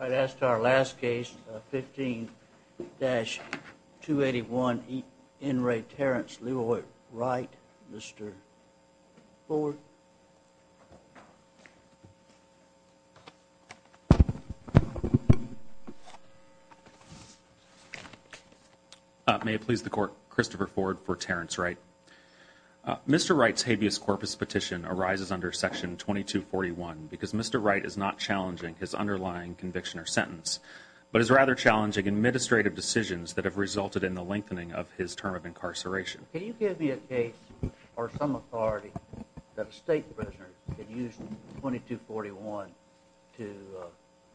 I'd ask our last case, 15-281, N. Ray Terrence LeRoy Wright. Mr. Ford. May it please the Court, Christopher Ford for Terrence Wright. Mr. Wright's habeas corpus petition arises under Section 2241 because Mr. Wright is not challenging his underlying conviction or sentence, but is rather challenging administrative decisions that have resulted in the lengthening of his term of incarceration. Can you give me a case or some authority that a State prisoner could use 2241 to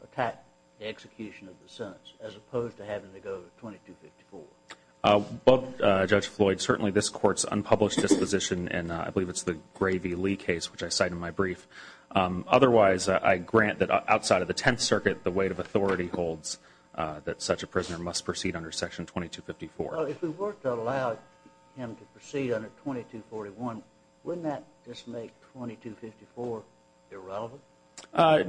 attack the execution of the sentence as opposed to having to go to 2254? Well, Judge Floyd, certainly this Court's unpublished disposition, and I believe it's the Gray v. Lee case which I cite in my brief. Otherwise, I grant that outside of the Tenth Circuit, the weight of authority holds that such a prisoner must proceed under Section 2254. Well, if we were to allow him to proceed under 2241, wouldn't that just make 2254 irrelevant?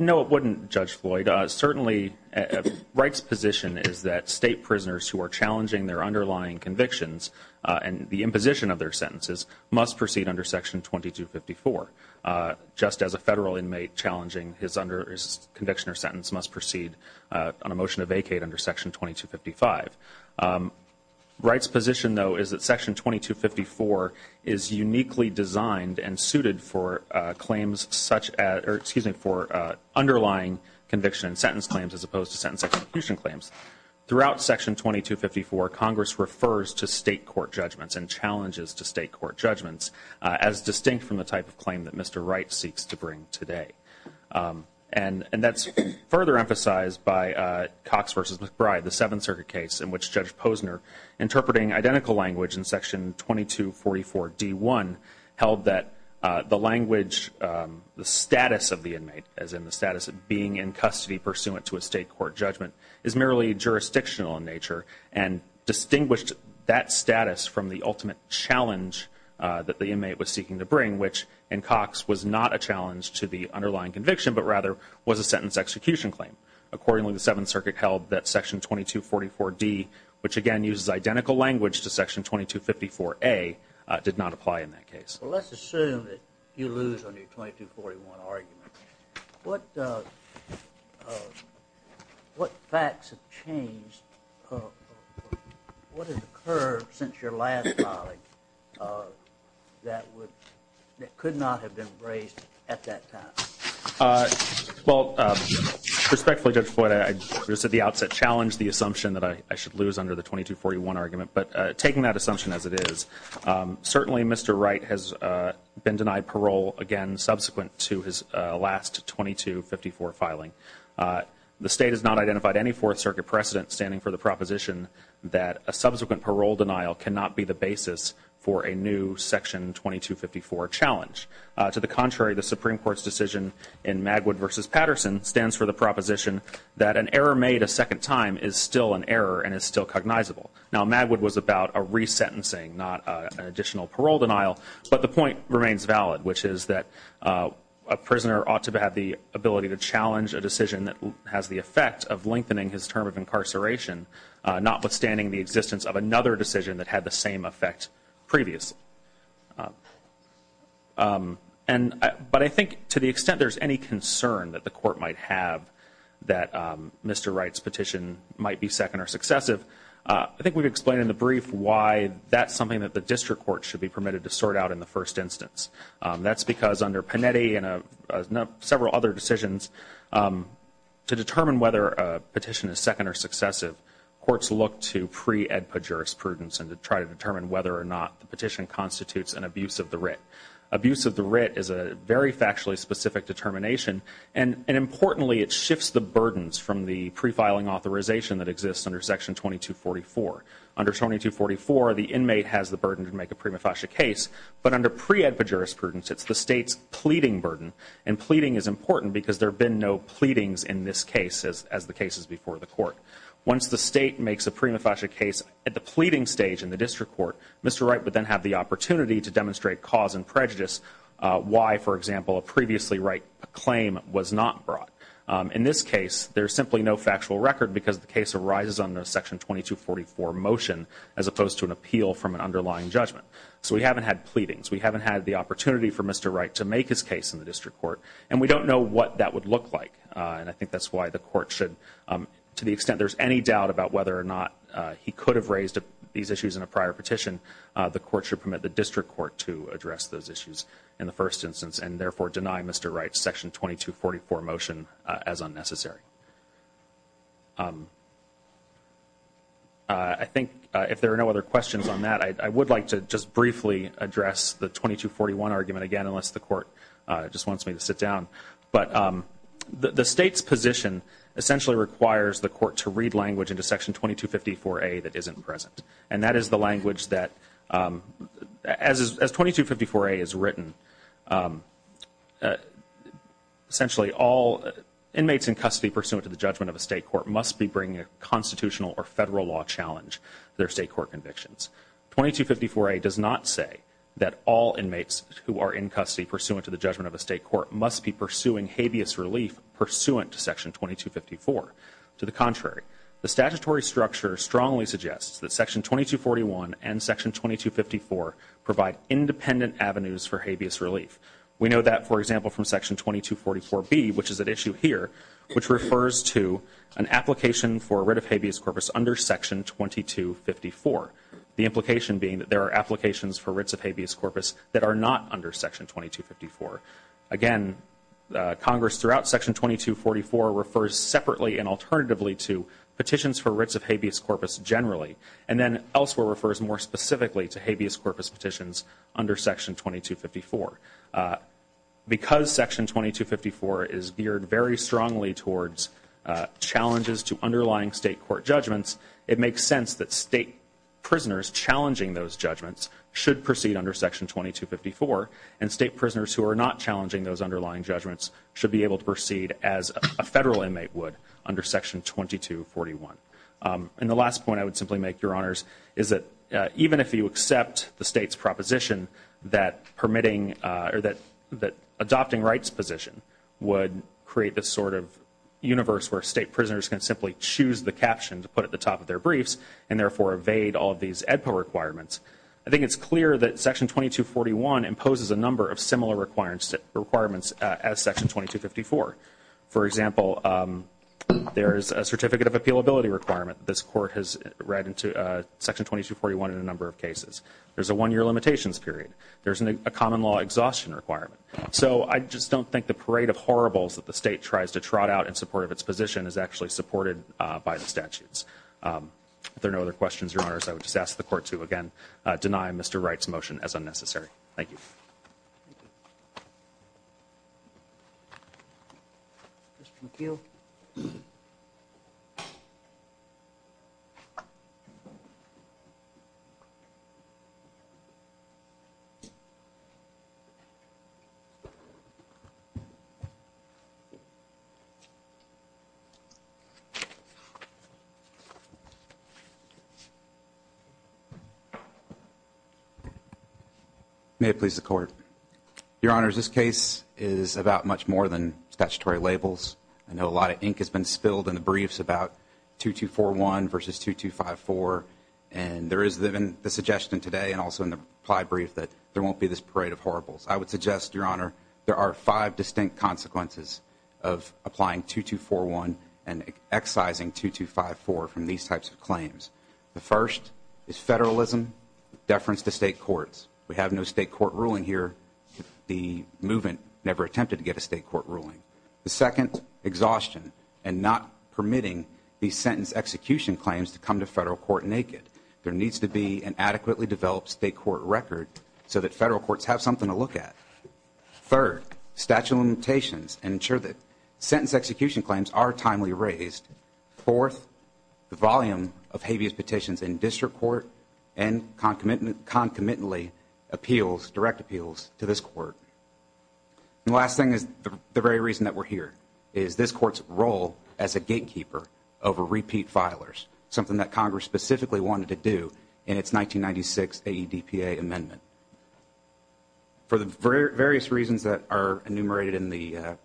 No, it wouldn't, Judge Floyd. Certainly Wright's position is that State prisoners who are challenging their underlying convictions and the imposition of their sentences must proceed under Section 2254, just as a Federal inmate challenging his conviction or sentence must proceed on a motion to vacate under Section 2255. Wright's position, though, is that Section 2254 is uniquely designed and suited for claims such as or, excuse me, for underlying conviction and sentence claims as opposed to sentence execution claims. Throughout Section 2254, Congress refers to State court judgments and challenges to State court judgments as distinct from the type of claim that Mr. Wright seeks to bring today. And that's further emphasized by Cox v. McBride, the Seventh Circuit case, in which Judge Posner, interpreting identical language in Section 2244d1, held that the language, the status of the inmate, as in the status of being in custody pursuant to a State court judgment, is merely jurisdictional in nature and distinguished that status from the ultimate challenge that the inmate was seeking to bring, which, in Cox, was not a challenge to the underlying conviction, but rather was a sentence execution claim. Accordingly, the Seventh Circuit held that Section 2244d, which, again, uses identical language to Section 2254a, did not apply in that case. Well, let's assume that you lose on your 2241 argument. What facts have changed? What has occurred since your last colleague that could not have been raised at that time? Well, respectfully, Judge Floyd, I just at the outset challenged the assumption that I should lose under the 2241 argument. But taking that assumption as it is, certainly Mr. Wright has been denied parole, again, subsequent to his last 2254 filing. The State has not identified any Fourth Circuit precedent standing for the proposition that a subsequent parole denial cannot be the basis for a new Section 2254 challenge. To the contrary, the Supreme Court's decision in Magwood v. Patterson stands for the proposition that an error made a second time is still an error and is still cognizable. Now, Magwood was about a resentencing, not an additional parole denial. But the point remains valid, which is that a prisoner ought to have the ability to challenge a decision that has the effect of lengthening his term of incarceration, notwithstanding the existence of another decision that had the same effect previously. But I think to the extent there's any concern that the Court might have that Mr. Wright's petition might be second or successive, I think we've explained in the brief why that's something that the District Court should be permitted to sort out in the first instance. That's because under Panetti and several other decisions, to determine whether a petition is second or successive, courts look to pre-edpa jurisprudence and to try to determine whether or not the petition constitutes an abuse of the writ. Abuse of the writ is a very factually specific determination. And importantly, it shifts the burdens from the pre-filing authorization that exists under Section 2244. Under 2244, the inmate has the burden to make a prima facie case. But under pre-edpa jurisprudence, it's the State's pleading burden. And pleading is important because there have been no pleadings in this case as the cases before the Court. Once the State makes a prima facie case at the pleading stage in the District Court, Mr. Wright would then have the opportunity to demonstrate cause and prejudice why, for example, a previously right claim was not brought. In this case, there's simply no factual record because the case arises under Section 2244 motion, as opposed to an appeal from an underlying judgment. So we haven't had pleadings. We haven't had the opportunity for Mr. Wright to make his case in the District Court. And we don't know what that would look like. And I think that's why the Court should, to the extent there's any doubt about whether or not he could have raised these issues in a prior petition, the Court should permit the District Court to address those issues in the first instance and, therefore, deny Mr. Wright's Section 2244 motion as unnecessary. I think if there are no other questions on that, I would like to just briefly address the 2241 argument again, unless the Court just wants me to sit down. But the State's position essentially requires the Court to read language into Section 2254A that isn't present. And that is the language that, as 2254A is written, essentially all inmates in custody pursuant to the judgment of a State court must be bringing a constitutional or Federal law challenge to their State court convictions. 2254A does not say that all inmates who are in custody pursuant to the judgment of a State court must be pursuing habeas relief pursuant to Section 2254. To the contrary, the statutory structure strongly suggests that Section 2241 and Section 2254 provide independent avenues for habeas relief. We know that, for example, from Section 2244B, which is at issue here, which refers to an application for writ of habeas corpus under Section 2254, the implication being that there are applications for writs of habeas corpus that are not under Section 2254. Again, Congress throughout Section 2244 refers separately and alternatively to petitions for writs of habeas corpus generally, and then elsewhere refers more specifically to habeas corpus petitions under Section 2254. Because Section 2254 is geared very strongly towards challenges to underlying State court judgments, it makes sense that State prisoners challenging those judgments should proceed under Section 2254, and State prisoners who are not challenging those underlying judgments should be able to proceed as a Federal inmate would under Section 2241. And the last point I would simply make, Your Honors, is that even if you accept the State's proposition that permitting or that adopting rights position would create this sort of universe where State prisoners can simply choose the caption to put at the top of their briefs and therefore evade all of these AEDPA requirements, I think it's clear that Section 2241 imposes a number of similar requirements as Section 2254. For example, there is a certificate of appealability requirement that this Court has read into Section 2241 in a number of cases. There's a one-year limitations period. There's a common law exhaustion requirement. So I just don't think the parade of horribles that the State tries to trot out in support of its position is actually supported by the statutes. If there are no other questions, Your Honors, I would just ask the Court to, again, deny Mr. Wright's motion as unnecessary. Thank you. May it please the Court. Your Honors, this case is about much more than statutory labels. I know a lot of ink has been spilled in the briefs about 2241 versus 2254, and there is the suggestion today and also in the reply brief that there won't be this parade of horribles. I would suggest, Your Honor, there are five distinct consequences of applying 2241 and excising 2254 from these types of claims. The first is federalism, deference to State courts. We have no State court ruling here. The movement never attempted to get a State court ruling. The second, exhaustion and not permitting these sentence execution claims to come to Federal court naked. There needs to be an adequately developed State court record so that Federal courts have something to look at. Third, statute of limitations and ensure that sentence execution claims are timely raised. Fourth, the volume of habeas petitions in district court and concomitantly appeals, direct appeals, to this court. And the last thing is the very reason that we're here, is this Court's role as a gatekeeper over repeat filers, something that Congress specifically wanted to do in its 1996 AEDPA amendment. For the various reasons that are enumerated in the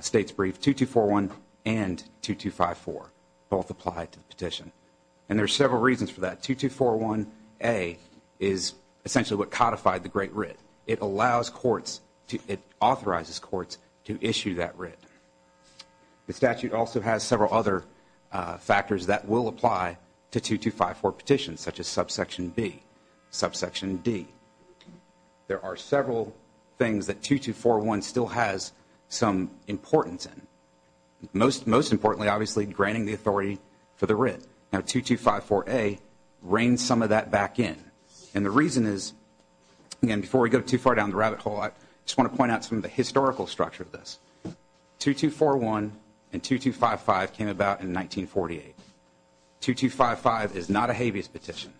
State's brief, 2241 and 2254 both apply to the petition. And there are several reasons for that. 2241A is essentially what codified the Great Writ. It allows courts, it authorizes courts to issue that writ. The statute also has several other factors that will apply to 2254 petitions, such as subsection B, subsection D. There are several things that 2241 still has some importance in. Most importantly, obviously, granting the authority for the writ. Now, 2254A reigns some of that back in. And the reason is, again, before we go too far down the rabbit hole, I just want to point out some of the historical structure of this. 2241 and 2255 came about in 1948. 2255 is not a habeas petition.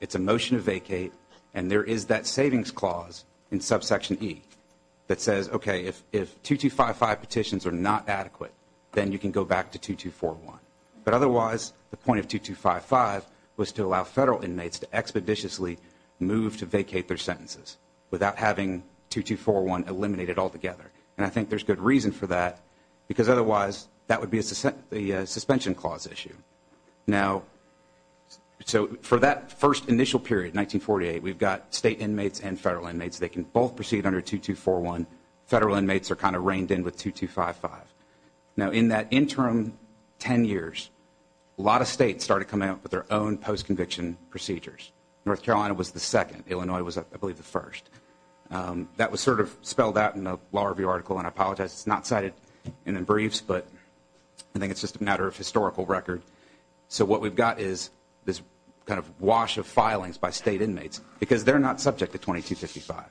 It's a motion to vacate, and there is that savings clause in subsection E that says, okay, if 2255 petitions are not adequate, then you can go back to 2241. But otherwise, the point of 2255 was to allow federal inmates to expeditiously move to vacate their sentences without having 2241 eliminated altogether. And I think there's good reason for that, because otherwise that would be a suspension clause issue. Now, so for that first initial period, 1948, we've got state inmates and federal inmates. They can both proceed under 2241. Federal inmates are kind of reined in with 2255. Now, in that interim 10 years, a lot of states started coming up with their own post-conviction procedures. North Carolina was the second. Illinois was, I believe, the first. That was sort of spelled out in a law review article, and I apologize. It's not cited in the briefs, but I think it's just a matter of historical record. So what we've got is this kind of wash of filings by state inmates because they're not subject to 2255.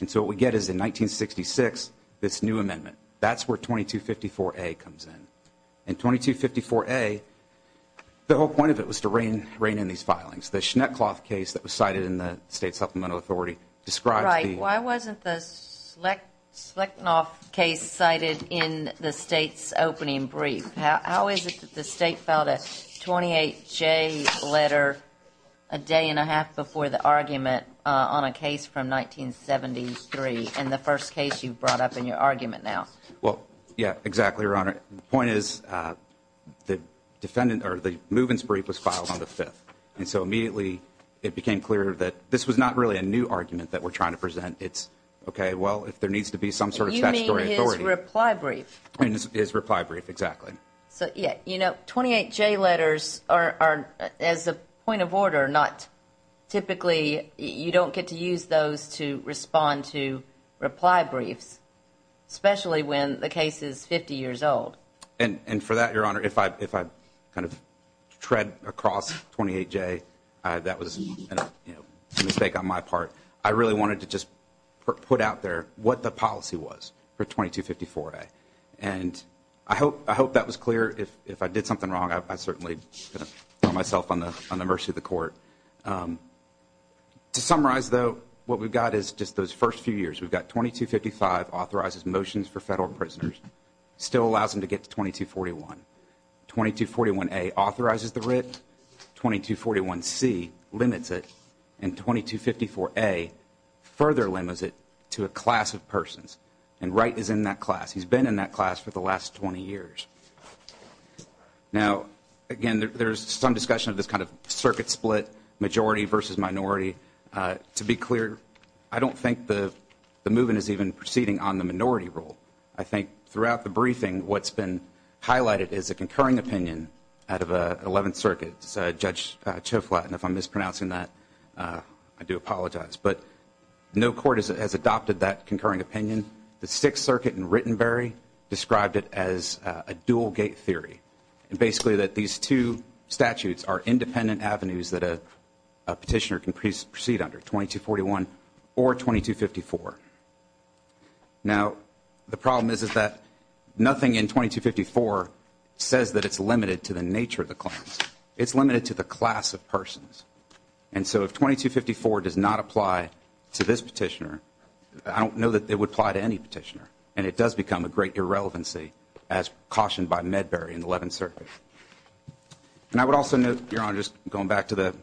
And so what we get is in 1966, this new amendment. That's where 2254A comes in. In 2254A, the whole point of it was to rein in these filings. The Schneckloff case that was cited in the State Supplemental Authority describes the- Right. Why wasn't the Schlecknoff case cited in the state's opening brief? How is it that the state filed a 28-J letter a day and a half before the argument on a case from 1973 and the first case you've brought up in your argument now? Well, yeah, exactly, Your Honor. The point is the defendant or the movements brief was filed on the 5th. And so immediately it became clear that this was not really a new argument that we're trying to present. It's, okay, well, if there needs to be some sort of statutory authority- You mean his reply brief. His reply brief, exactly. So, yeah, you know, 28-J letters are, as a point of order, not typically- you don't get to use those to respond to reply briefs, especially when the case is 50 years old. And for that, Your Honor, if I kind of tread across 28-J, that was a mistake on my part. I really wanted to just put out there what the policy was for 2254-A. And I hope that was clear. If I did something wrong, I certainly put myself on the mercy of the court. To summarize, though, what we've got is just those first few years. We've got 2255 authorizes motions for federal prisoners, still allows them to get to 2241. 2241-A authorizes the writ. 2241-C limits it. And 2254-A further limits it to a class of persons. And Wright is in that class. He's been in that class for the last 20 years. Now, again, there's some discussion of this kind of circuit split, majority versus minority. To be clear, I don't think the move-in is even proceeding on the minority rule. I think throughout the briefing, what's been highlighted is a concurring opinion out of 11th Circuit. It's Judge Choflat, and if I'm mispronouncing that, I do apologize. But no court has adopted that concurring opinion. The 6th Circuit in Rittenbury described it as a dual-gate theory, and basically that these two statutes are independent avenues that a petitioner can proceed under, 2241 or 2254. Now, the problem is that nothing in 2254 says that it's limited to the nature of the claims. It's limited to the class of persons. And so if 2254 does not apply to this petitioner, I don't know that it would apply to any petitioner. And it does become a great irrelevancy, as cautioned by Medbury in the 11th Circuit. And I would also note, Your Honor, just going back to the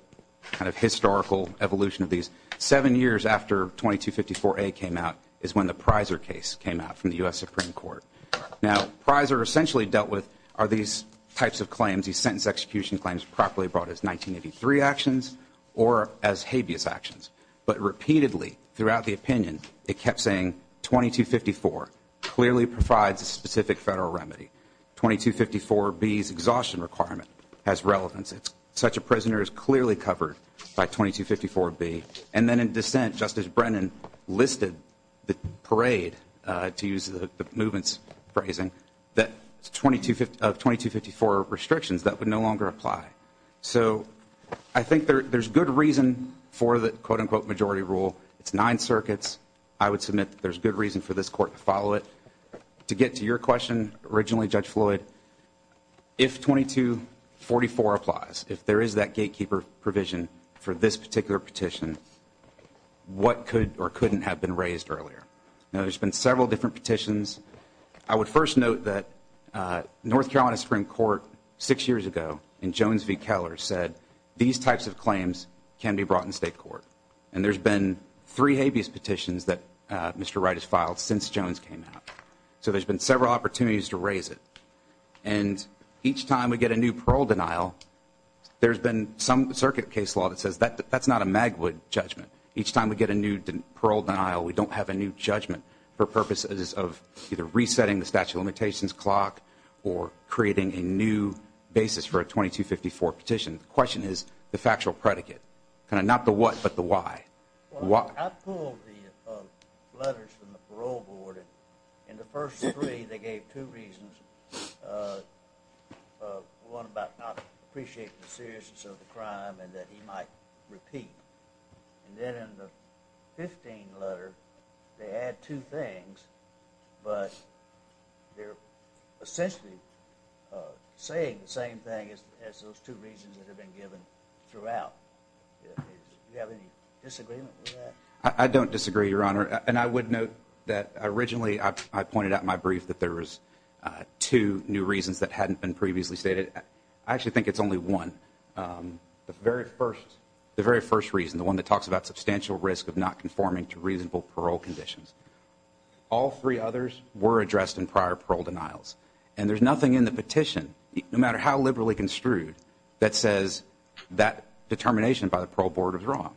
kind of historical evolution of these, seven years after 2254A came out is when the Prysor case came out from the U.S. Supreme Court. Now, Prysor essentially dealt with are these types of claims, these sentence execution claims, properly brought as 1983 actions or as habeas actions. But repeatedly, throughout the opinion, it kept saying 2254 clearly provides a specific federal remedy. 2254B's exhaustion requirement has relevance. Such a prisoner is clearly covered by 2254B. And then in dissent, Justice Brennan listed the parade, to use the movement's phrasing, that 2254 restrictions, that would no longer apply. So I think there's good reason for the quote-unquote majority rule. It's nine circuits. I would submit that there's good reason for this court to follow it. To get to your question originally, Judge Floyd, if 2244 applies, if there is that gatekeeper provision for this particular petition, what could or couldn't have been raised earlier? Now, there's been several different petitions. I would first note that North Carolina Supreme Court, six years ago, in Jones v. Keller, said these types of claims can be brought in state court. And there's been three habeas petitions that Mr. Wright has filed since Jones came out. So there's been several opportunities to raise it. And each time we get a new parole denial, there's been some circuit case law that says that's not a Magwood judgment. Each time we get a new parole denial, we don't have a new judgment for purposes of either resetting the statute of limitations clock or creating a new basis for a 2254 petition. The question is the factual predicate, kind of not the what but the why. I pulled the letters from the parole board, and the first three, they gave two reasons, one about not appreciating the seriousness of the crime and that he might repeat. And then in the 15th letter, they add two things, but they're essentially saying the same thing as those two reasons that have been given throughout. Do you have any disagreement with that? I don't disagree, Your Honor. And I would note that originally I pointed out in my brief that there was two new reasons that hadn't been previously stated. I actually think it's only one. The very first reason, the one that talks about substantial risk of not conforming to reasonable parole conditions, all three others were addressed in prior parole denials. And there's nothing in the petition, no matter how liberally construed, that says that determination by the parole board is wrong.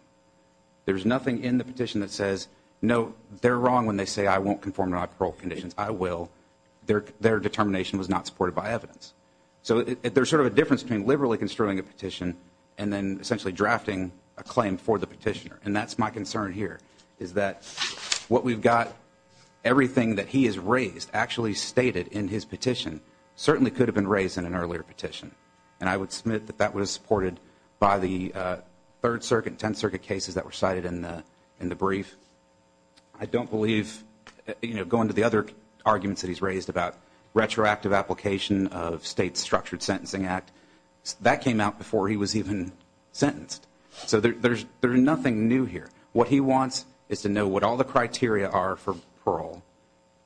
There's nothing in the petition that says, no, they're wrong when they say I won't conform to my parole conditions. I will. Their determination was not supported by evidence. So there's sort of a difference between liberally construing a petition and then essentially drafting a claim for the petitioner. And that's my concern here, is that what we've got, everything that he has raised, actually stated in his petition certainly could have been raised in an earlier petition. And I would submit that that was supported by the Third Circuit and Tenth Circuit cases that were cited in the brief. I don't believe, going to the other arguments that he's raised about retroactive application of state structured sentencing act, that came out before he was even sentenced. So there's nothing new here. What he wants is to know what all the criteria are for parole.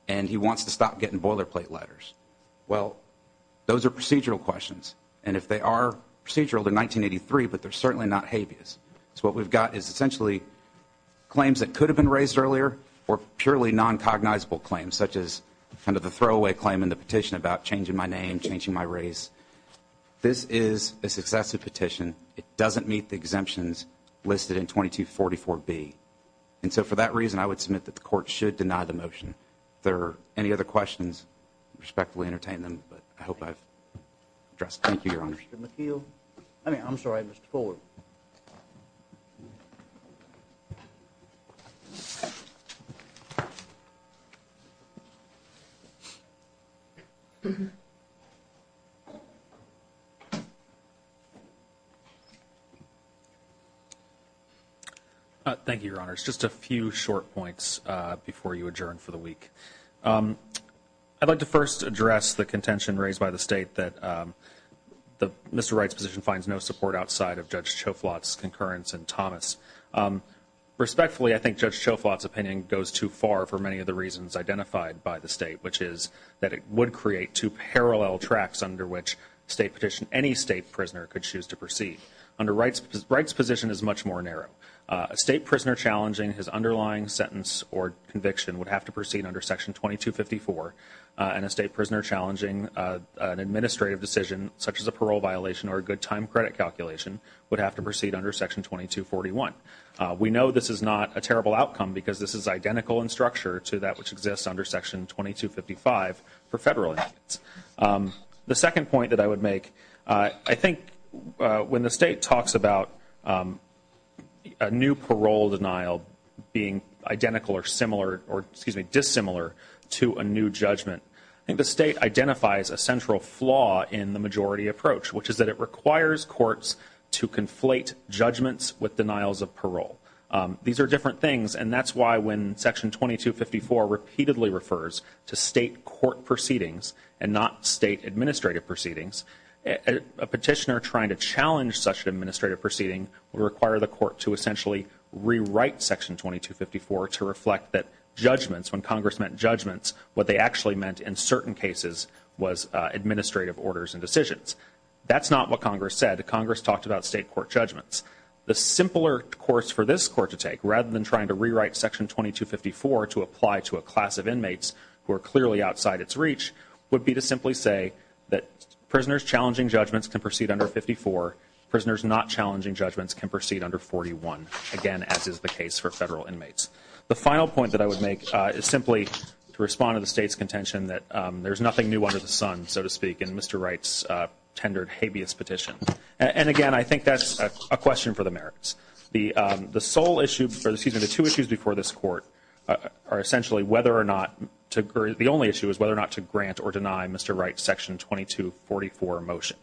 And he wants to stop getting boilerplate letters. Well, those are procedural questions. And if they are procedural, they're 1983, but they're certainly not habeas. So what we've got is essentially claims that could have been raised earlier or purely noncognizable claims, such as kind of the throwaway claim in the petition about changing my name, changing my race. This is a successive petition. It doesn't meet the exemptions listed in 2244B. And so for that reason, I would submit that the court should deny the motion. If there are any other questions, respectfully entertain them. But I hope I've addressed them. Thank you, Your Honor. Mr. McKeel. I mean, I'm sorry, Mr. Fuller. Thank you, Your Honors. Just a few short points before you adjourn for the week. I'd like to first address the contention raised by the State that Mr. Wright's position finds no support outside of Judge Choflot's concurrence and Thomas'. Respectfully, I think Judge Choflot's opinion goes too far for many of the reasons identified by the State, which is that it would create two parallel tracks under which any State prisoner could choose to proceed. Under Wright's position, it's much more narrow. A State prisoner challenging his underlying sentence or conviction would have to proceed under Section 2254, and a State prisoner challenging an administrative decision, such as a parole violation or a good time credit calculation, would have to proceed under Section 2241. We know this is not a terrible outcome because this is identical in structure to that which exists under Section 2255 for Federal inmates. The second point that I would make, I think when the State talks about a new parole denial being identical or similar or, excuse me, dissimilar to a new judgment, I think the State identifies a central flaw in the majority approach, which is that it requires courts to conflate judgments with denials of parole. These are different things, and that's why when Section 2254 repeatedly refers to State court proceedings and not State administrative proceedings, a petitioner trying to challenge such an administrative proceeding would require the court to essentially rewrite Section 2254 to reflect that judgments, when Congress meant judgments, what they actually meant in certain cases was administrative orders and decisions. That's not what Congress said. Congress talked about State court judgments. The simpler course for this court to take, rather than trying to rewrite Section 2254 to apply to a class of inmates who are clearly outside its reach, would be to simply say that prisoners challenging judgments can proceed under 54, prisoners not challenging judgments can proceed under 41, again, as is the case for Federal inmates. The final point that I would make is simply to respond to the State's contention that there's nothing new under the sun, so to speak, in Mr. Wright's tendered habeas petition. And, again, I think that's a question for the merits. The sole issue, or excuse me, the two issues before this court are essentially whether or not, the only issue is whether or not to grant or deny Mr. Wright's Section 2244 motion.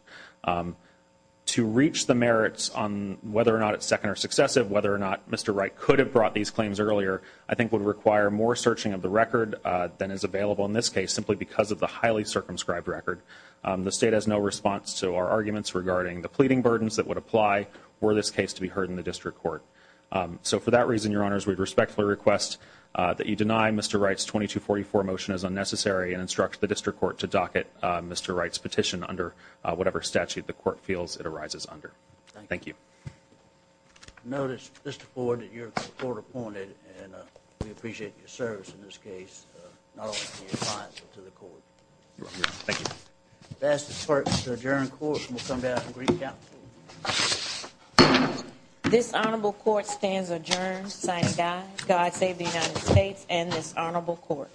To reach the merits on whether or not it's second or successive, whether or not Mr. Wright could have brought these claims earlier, I think would require more searching of the record than is available in this case simply because of the highly circumscribed record. The State has no response to our arguments regarding the pleading burdens that would apply were this case to be heard in the district court. So for that reason, Your Honors, we respectfully request that you deny Mr. Wright's 2244 motion as unnecessary and instruct the district court to docket Mr. Wright's petition under whatever statute the court feels it arises under. Thank you. I notice, Mr. Ford, that you're court appointed, and we appreciate your service in this case, not only to your clients, but to the court. Thank you. If I may ask the clerk to adjourn the court, and we'll come back and recap. This Honorable Court stands adjourned, signing God Save the United States and this Honorable Court.